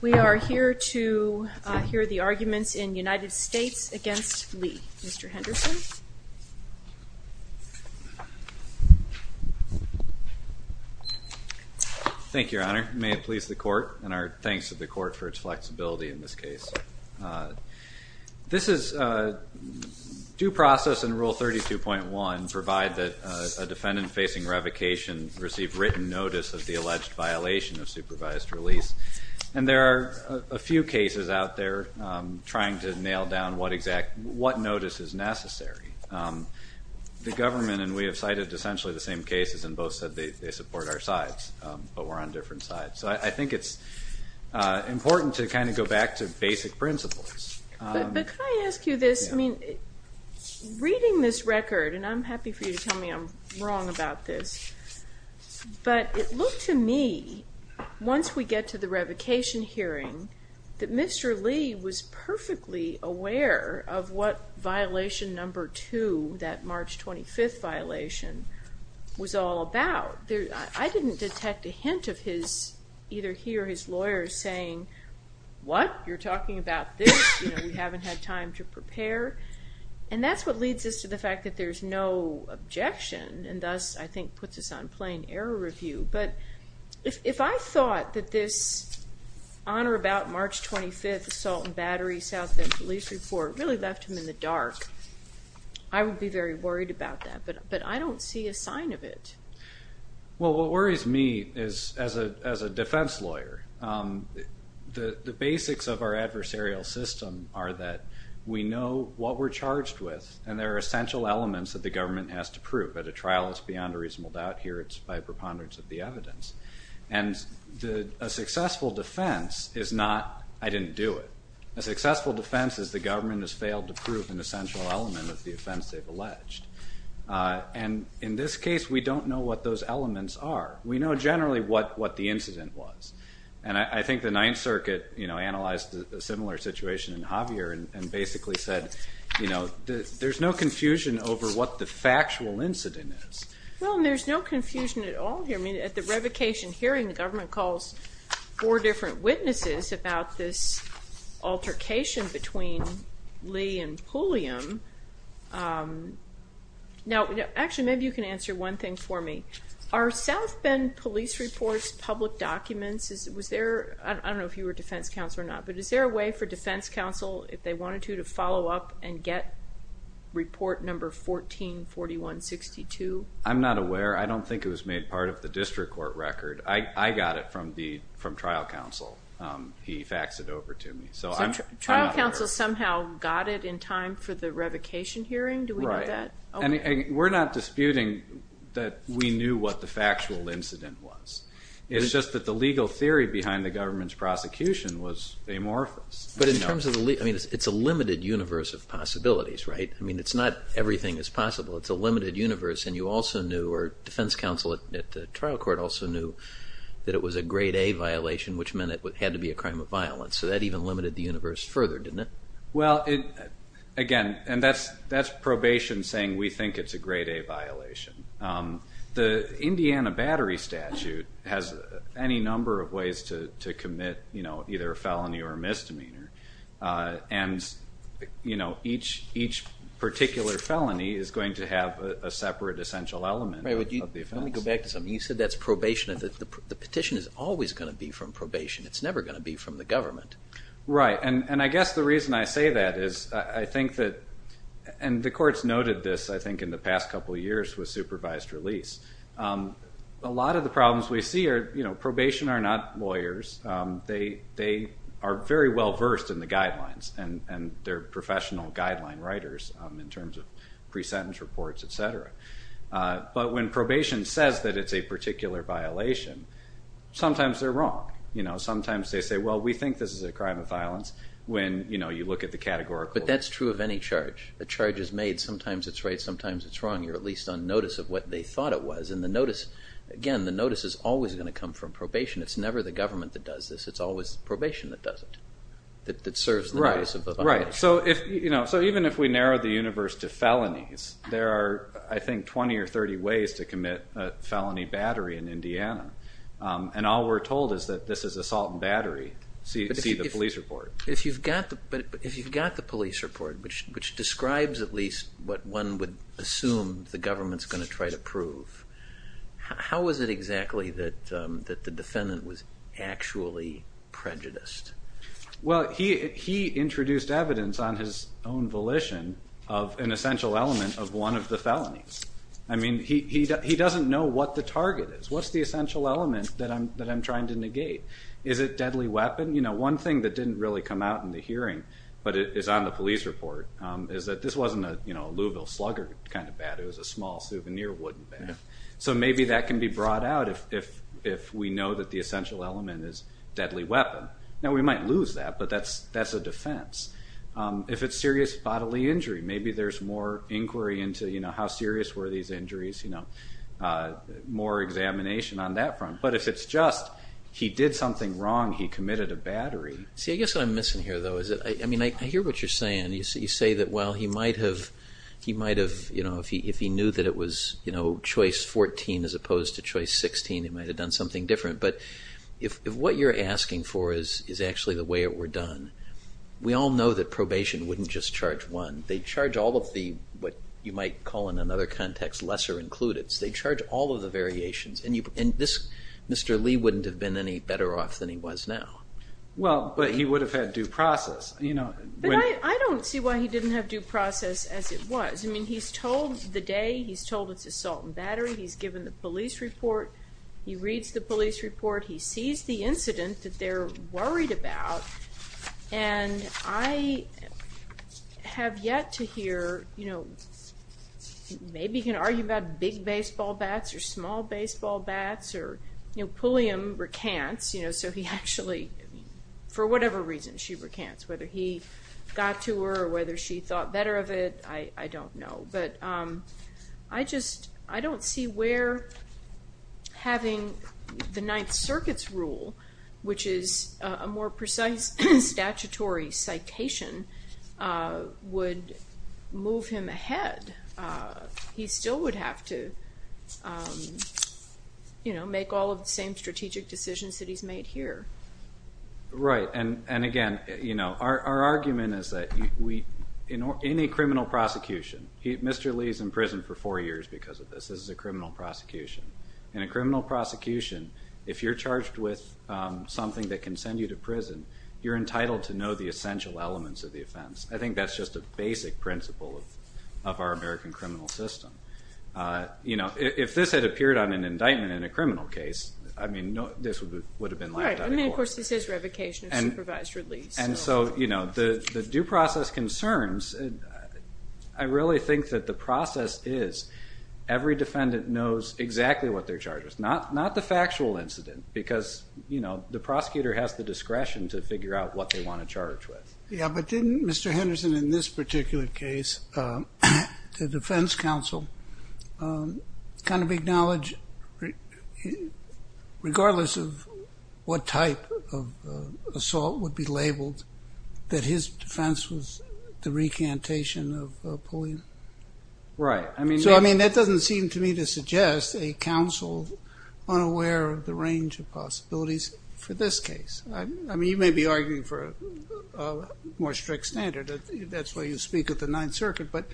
We are here to hear the arguments in United States v. Lee. Mr. Henderson. Thank you, Your Honor. May it please the Court, and our thanks to the Court for its flexibility in this case. This is due process in Rule 32.1, provide that a defendant facing revocation receive written notice of the alleged violation of supervised release. And there are a few cases out there trying to nail down what notice is necessary. The government and we have cited essentially the same cases and both said they support our sides, but we're on different sides. So I think it's important to kind of go back to basic principles. But can I ask you this? Reading this record, and I'm happy for you to tell me I'm wrong about this, but it looked to me, once we get to the revocation hearing, that Mr. Lee was perfectly aware of what violation number two, that March 25th violation, was all about. I didn't detect a hint of his, either he or his lawyers, saying, what? You're talking about this? We haven't had time to prepare? And that's what leads us to the fact that there's no objection, and thus I think puts us on plain error review. But if I thought that this on or about March 25th assault and battery South Bend police report really left him in the dark, I would be very worried about that. But I don't see a sign of it. Well, what worries me is, as a defense lawyer, the basics of our adversarial system are that we know what we're charged with, and there are essential elements that the government has to prove. At a trial, it's beyond a reasonable doubt here, it's by preponderance of the evidence. And a successful defense is not, I didn't do it. A successful defense is the government has failed to prove an essential element of the offense they've alleged. And in this case, we don't know what those elements are. We know generally what the incident was. And I think the Ninth Circuit analyzed a similar situation in Javier and basically said, you know, there's no confusion over what the factual incident is. Well, and there's no confusion at all here. I mean, at the revocation hearing, the government calls four different witnesses about this altercation between Lee and Pulliam. Now, actually, maybe you can answer one thing for me. Are South Bend police reports, public documents, was there, I don't know if you were defense counsel or not, but is there a way for defense counsel, if they wanted to, to follow up and get report number 144162? I'm not aware. I don't think it was made part of the district court record. I got it from trial counsel. He faxed it over to me. So trial counsel somehow got it in time for the revocation hearing? Do we know that? Right. And we're not disputing that we knew what the factual incident was. It's just that the legal theory behind the government's prosecution was amorphous. But in terms of the, I mean, it's a limited universe of possibilities, right? I mean, it's not everything is possible. It's a limited universe. And you also knew, or defense counsel at the trial court also knew, that it was a grade A violation, which meant it had to be a crime of violence. So that even limited the universe further, didn't it? Well, again, and that's probation saying we think it's a grade A violation. The Indiana Battery Statute has any number of ways to commit either a felony or a misdemeanor. And each particular felony is going to have a separate essential element of the offense. Let me go back to something. You said that's probation. The petition is always going to be from probation. It's never going to be from the government. Right. And I guess the reason I say that is I think that, and the courts noted this, I think, in the past couple of years with supervised release. A lot of the problems we see are probation are not lawyers. They are very well versed in the guidelines. And they're professional guideline writers in terms of pre-sentence reports, et cetera. But when probation says that it's a particular violation, sometimes they're wrong. Sometimes they say, well, we think this is a crime of violence when you look at the categorical. But that's true of any charge. The charge is made. Sometimes it's right, sometimes it's wrong. You're at least on notice of what they thought it was. And the notice, again, the notice is always going to come from probation. It's never the government that does this. It's always probation that does it, that serves the notice of a violation. Right. So even if we narrow the universe to felonies, there are, I think, 20 or 30 ways to commit a felony battery in Indiana. And all we're told is that this is assault and battery. See the police report. But if you've got the police report, which describes at least what one would assume the government's going to try to prove, how is it exactly that the defendant was actually prejudiced? Well, he introduced evidence on his own volition of an essential element of one of the felonies. I mean, he doesn't know what the target is. What's the essential element that I'm trying to negate? Is it deadly weapon? You know, one thing that didn't really come out in the hearing, but is on the police report, is that this wasn't a Louisville Slugger kind of bat. It was a small souvenir wooden bat. So maybe that can be brought out if we know that the essential element is deadly weapon. Now, we might lose that, but that's a defense. If it's serious bodily injury, maybe there's more inquiry into how serious were these injuries, more examination on that front. But if it's just he did something wrong, he committed a battery. See, I guess what I'm missing here, though, is that, I mean, I hear what you're saying. You say that, well, he might have, you know, if he knew that it was choice 14 as opposed to choice 16, he might have done something different. But if what you're asking for is actually the way it were done, we all know that probation wouldn't just charge one. They'd charge all of the, what you might call in another context, lesser-includeds. They'd charge all of the variations. And Mr. Lee wouldn't have been any better off than he was now. Well, but he would have had due process. But I don't see why he didn't have due process as it was. I mean, he's told the day, he's told it's assault and battery. He's given the police report. He reads the police report. He sees the incident that they're worried about. And I have yet to hear, you know, maybe he can argue about big baseball bats or small baseball bats or, you know, Pulliam recants, you know, so he actually, for whatever reason she recants, whether he got to her or whether she thought better of it, I don't know. But I just, I don't see where having the Ninth Circuit's rule, which is a more precise statutory citation, would move him ahead. He still would have to, you know, make all of the same strategic decisions that he's made here. Right, and again, you know, our argument is that any criminal prosecution, Mr. Lee's in prison for four years because of this. This is a criminal prosecution. In a criminal prosecution, if you're charged with something that can send you to prison, I think that's just a basic principle of our American criminal system. You know, if this had appeared on an indictment in a criminal case, I mean, this would have been laughed at. Right, I mean, of course, this is revocation of supervised release. And so, you know, the due process concerns, I really think that the process is every defendant knows exactly what they're charged with, not the factual incident, because, you know, the prosecutor has the discretion to figure out what they want to charge with. Yeah, but didn't Mr. Henderson, in this particular case, the defense counsel kind of acknowledge, regardless of what type of assault would be labeled, that his defense was the recantation of bullying? Right. So, I mean, that doesn't seem to me to suggest a counsel unaware of the range of possibilities for this case. I mean, you may be arguing for a more strict standard. That's why you speak at the Ninth Circuit. But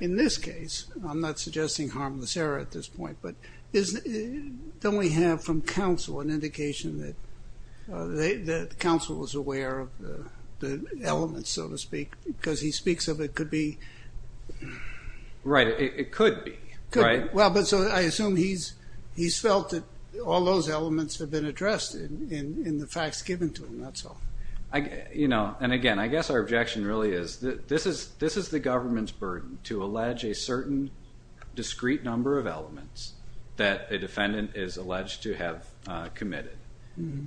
in this case, I'm not suggesting harmless error at this point, but don't we have from counsel an indication that the counsel was aware of the elements, so to speak? Because he speaks of it could be. Right, it could be, right? Well, but so I assume he's felt that all those elements have been addressed in the facts given to him, that's all. You know, and again, I guess our objection really is that this is the government's burden to allege a certain discrete number of elements that a defendant is alleged to have committed.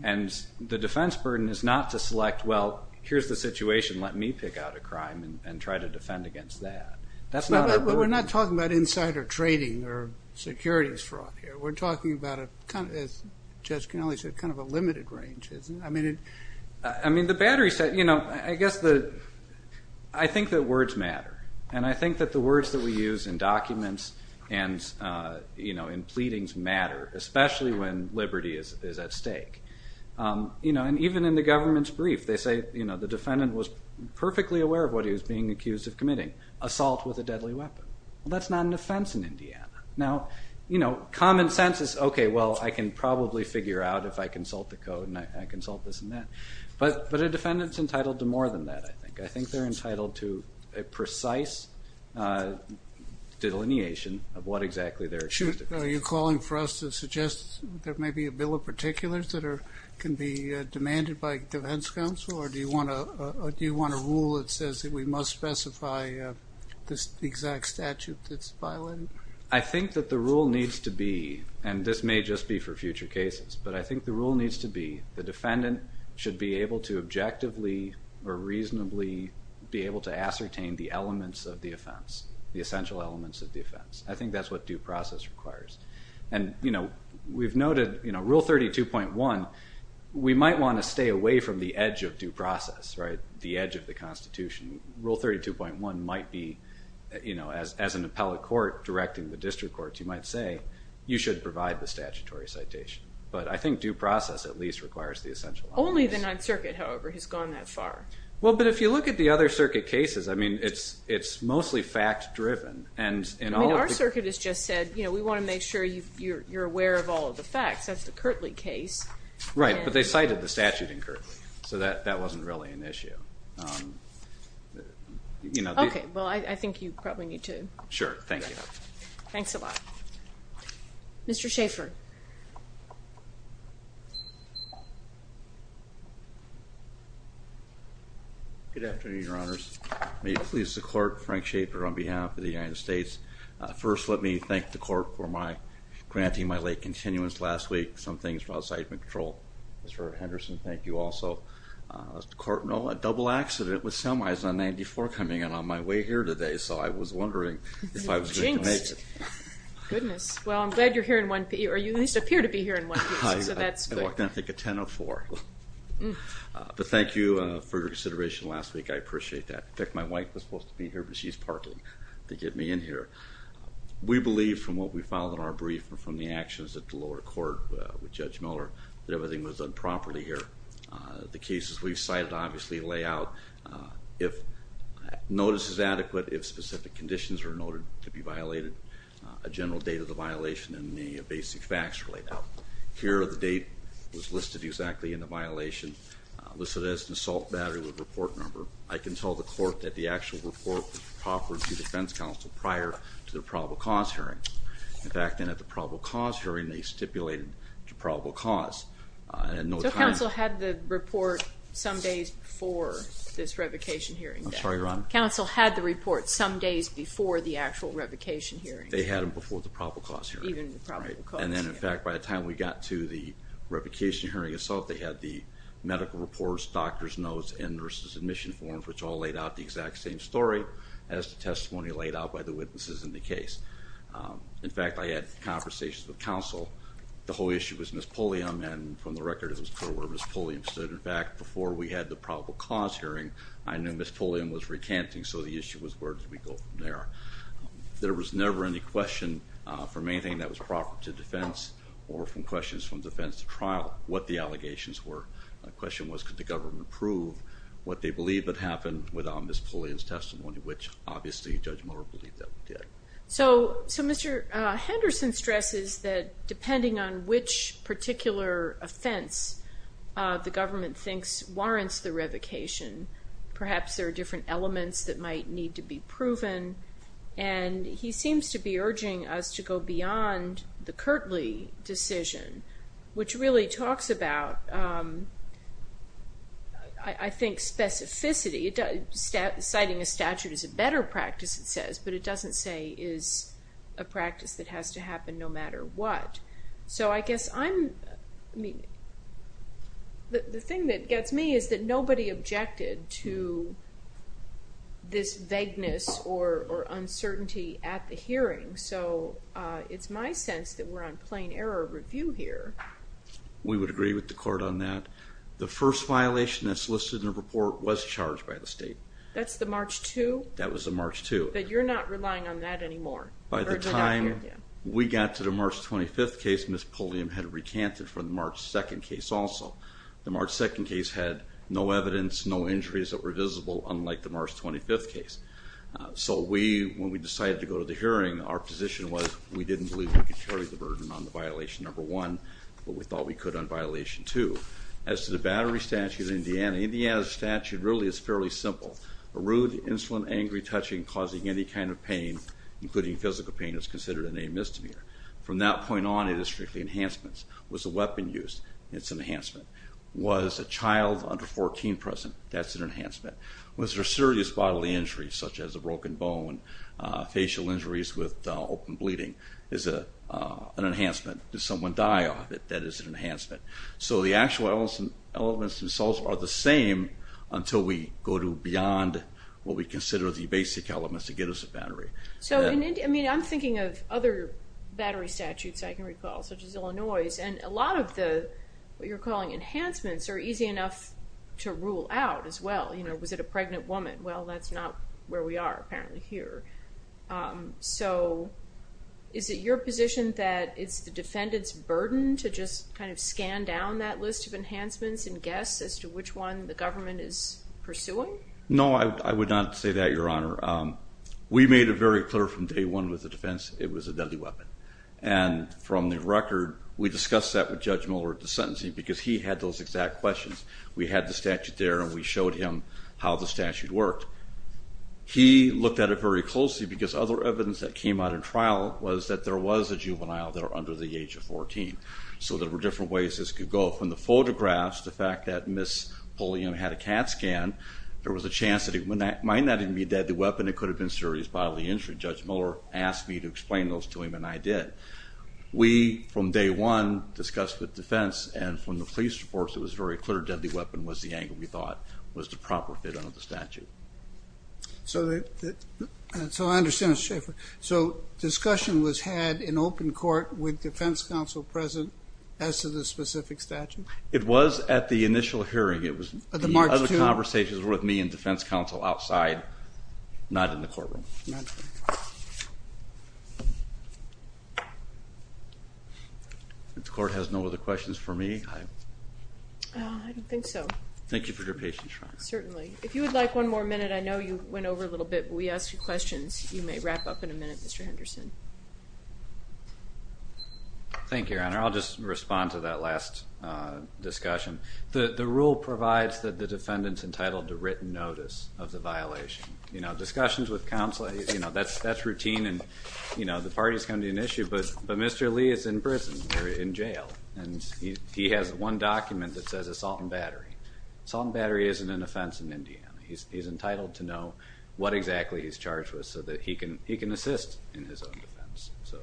And the defense burden is not to select, well, here's the situation, let me pick out a crime and try to defend against that. That's not our burden. But we're not talking about insider trading or securities fraud here. We're talking about, as Judge Cannelli said, kind of a limited range, isn't it? I mean, the battery set, you know, I guess I think that words matter. And I think that the words that we use in documents and, you know, in pleadings matter, especially when liberty is at stake. You know, and even in the government's brief, they say, you know, the defendant was perfectly aware of what he was being accused of committing, assault with a deadly weapon. Well, that's not an offense in Indiana. Now, you know, common sense is, okay, well, I can probably figure out if I consult the code and I consult this and that. But a defendant's entitled to more than that, I think. I think they're entitled to a precise delineation of what exactly they're accused of. Are you calling for us to suggest there may be a bill of particulars that can be demanded by defense counsel? Or do you want a rule that says that we must specify the exact statute that's violated? I think that the rule needs to be, and this may just be for future cases, but I think the rule needs to be the defendant should be able to objectively or reasonably be able to ascertain the elements of the offense, the essential elements of the offense. I think that's what due process requires. And, you know, we've noted, you know, Rule 32.1, we might want to stay away from the edge of due process, right, the edge of the Constitution. Rule 32.1 might be, you know, as an appellate court directing the district courts, you might say you should provide the statutory citation. But I think due process at least requires the essential elements. Only the Ninth Circuit, however, has gone that far. Well, but if you look at the other circuit cases, I mean, it's mostly fact-driven. I mean, our circuit has just said, you know, we want to make sure you're aware of all of the facts. That's the Kirtley case. Right, but they cited the statute in Kirtley, so that wasn't really an issue. Okay. Well, I think you probably need to. Sure. Thank you. Mr. Schaffer. Good afternoon, Your Honors. May it please the Court, Frank Schaffer on behalf of the United States. First, let me thank the Court for my granting my late continuance last week. Some things were outside my control. Mr. Henderson, thank you also. Mr. Court, no, a double accident with semis on 94 coming in on my way here today, so I was wondering if I was going to make it. Jinxed. Goodness. Well, I'm glad you're here in one piece, or you at least appear to be here in one piece, so that's good. I walked in, I think, at 10 of 4. But thank you for your consideration last week. I appreciate that. In fact, my wife was supposed to be here, but she's parking to get me in here. We believe from what we found in our brief and from the actions at the lower court with Judge Miller that everything was done properly here. The cases we've cited obviously lay out if notice is adequate, if specific conditions are noted to be violated, a general date of the violation and the basic facts laid out. Here, the date was listed exactly in the violation, listed as an assault battery with a report number. I can tell the court that the actual report was proffered to defense counsel prior to the probable cause hearing. In fact, then at the probable cause hearing, they stipulated the probable cause. So counsel had the report some days before this revocation hearing? I'm sorry, Your Honor? Counsel had the report some days before the actual revocation hearing? They had it before the probable cause hearing. Even the probable cause hearing. And then, in fact, by the time we got to the revocation hearing assault, they had the medical reports, doctor's notes, and nurse's admission forms, which all laid out the exact same story as the testimony laid out by the witnesses in the case. In fact, I had conversations with counsel. The whole issue was Ms. Pulliam, and from the record it was clear where Ms. Pulliam stood. In fact, before we had the probable cause hearing, I knew Ms. Pulliam was recanting, so the issue was where did we go from there? There was never any question from anything that was proffered to defense or from questions from defense to trial what the allegations were. The question was could the government prove what they believed that happened without Ms. Pulliam's testimony, which obviously Judge Mueller believed that we did. So Mr. Henderson stresses that depending on which particular offense the government thinks warrants the revocation, perhaps there are different elements that might need to be proven, and he seems to be urging us to go beyond the Kirtley decision, which really talks about, I think, specificity. Citing a statute is a better practice, it says, but it doesn't say is a practice that has to happen no matter what. So I guess the thing that gets me is that nobody objected to this vagueness or uncertainty at the hearing, so it's my sense that we're on plain error review here. We would agree with the court on that. The first violation that's listed in the report was charged by the state. That's the March 2? That was the March 2. But you're not relying on that anymore? By the time we got to the March 25th case, Ms. Pulliam had recanted from the March 2nd case also. The March 2nd case had no evidence, no injuries that were visible, unlike the March 25th case. So when we decided to go to the hearing, our position was we didn't believe we could carry the burden on the violation number one, but we thought we could on violation two. As to the battery statute in Indiana, Indiana's statute really is fairly simple. A rude, insolent, angry touching causing any kind of pain, including physical pain, is considered an amystomy. From that point on, it is strictly enhancements. Was a weapon used? It's an enhancement. Was a child under 14 present? That's an enhancement. Was there serious bodily injury, such as a broken bone, facial injuries with open bleeding? It's an enhancement. Did someone die? That is an enhancement. So the actual elements themselves are the same until we go to beyond what we consider the basic elements to get us a battery. I'm thinking of other battery statutes I can recall, such as Illinois', and a lot of what you're calling enhancements are easy enough to rule out as well. Was it a pregnant woman? Well, that's not where we are apparently here. So is it your position that it's the defendant's burden to just kind of scan down that list of enhancements and guess as to which one the government is pursuing? No, I would not say that, Your Honor. We made it very clear from day one with the defense it was a deadly weapon, and from the record we discussed that with Judge Miller at the sentencing because he had those exact questions. We had the statute there and we showed him how the statute worked. He looked at it very closely because other evidence that came out in trial was that there was a juvenile there under the age of 14. So there were different ways this could go. From the photographs, the fact that Ms. Pulliam had a CAT scan, there was a chance that it might not even be a deadly weapon. It could have been serious bodily injury. Judge Miller asked me to explain those to him and I did. We, from day one, discussed with defense and from the police reports, it was very clear that the weapon was the angle we thought was the proper fit under the statute. So I understand, Mr. Schaffer. So discussion was had in open court with defense counsel present as to the specific statute? It was at the initial hearing. It was the other conversations were with me and defense counsel outside, not in the courtroom. The court has no other questions for me? I don't think so. Thank you for your patience, Your Honor. Certainly. If you would like one more minute, I know you went over a little bit, but we asked you questions. You may wrap up in a minute, Mr. Henderson. Thank you, Your Honor. I'll just respond to that last discussion. The rule provides that the defendant's entitled to written notice of the violation. Discussions with counsel, that's routine and the parties can be an issue, but Mr. Lee is in prison or in jail and he has one document that says assault and battery. Assault and battery isn't an offense in Indiana. He's entitled to know what exactly he's charged with so that he can assist in his own defense. So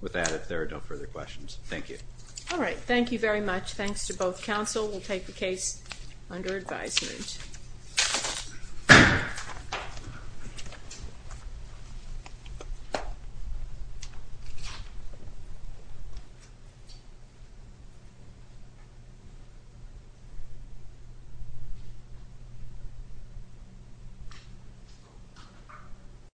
with that, if there are no further questions, thank you. All right. Thank you very much. Thanks to both counsel. We'll take the case under advisement. Thank you.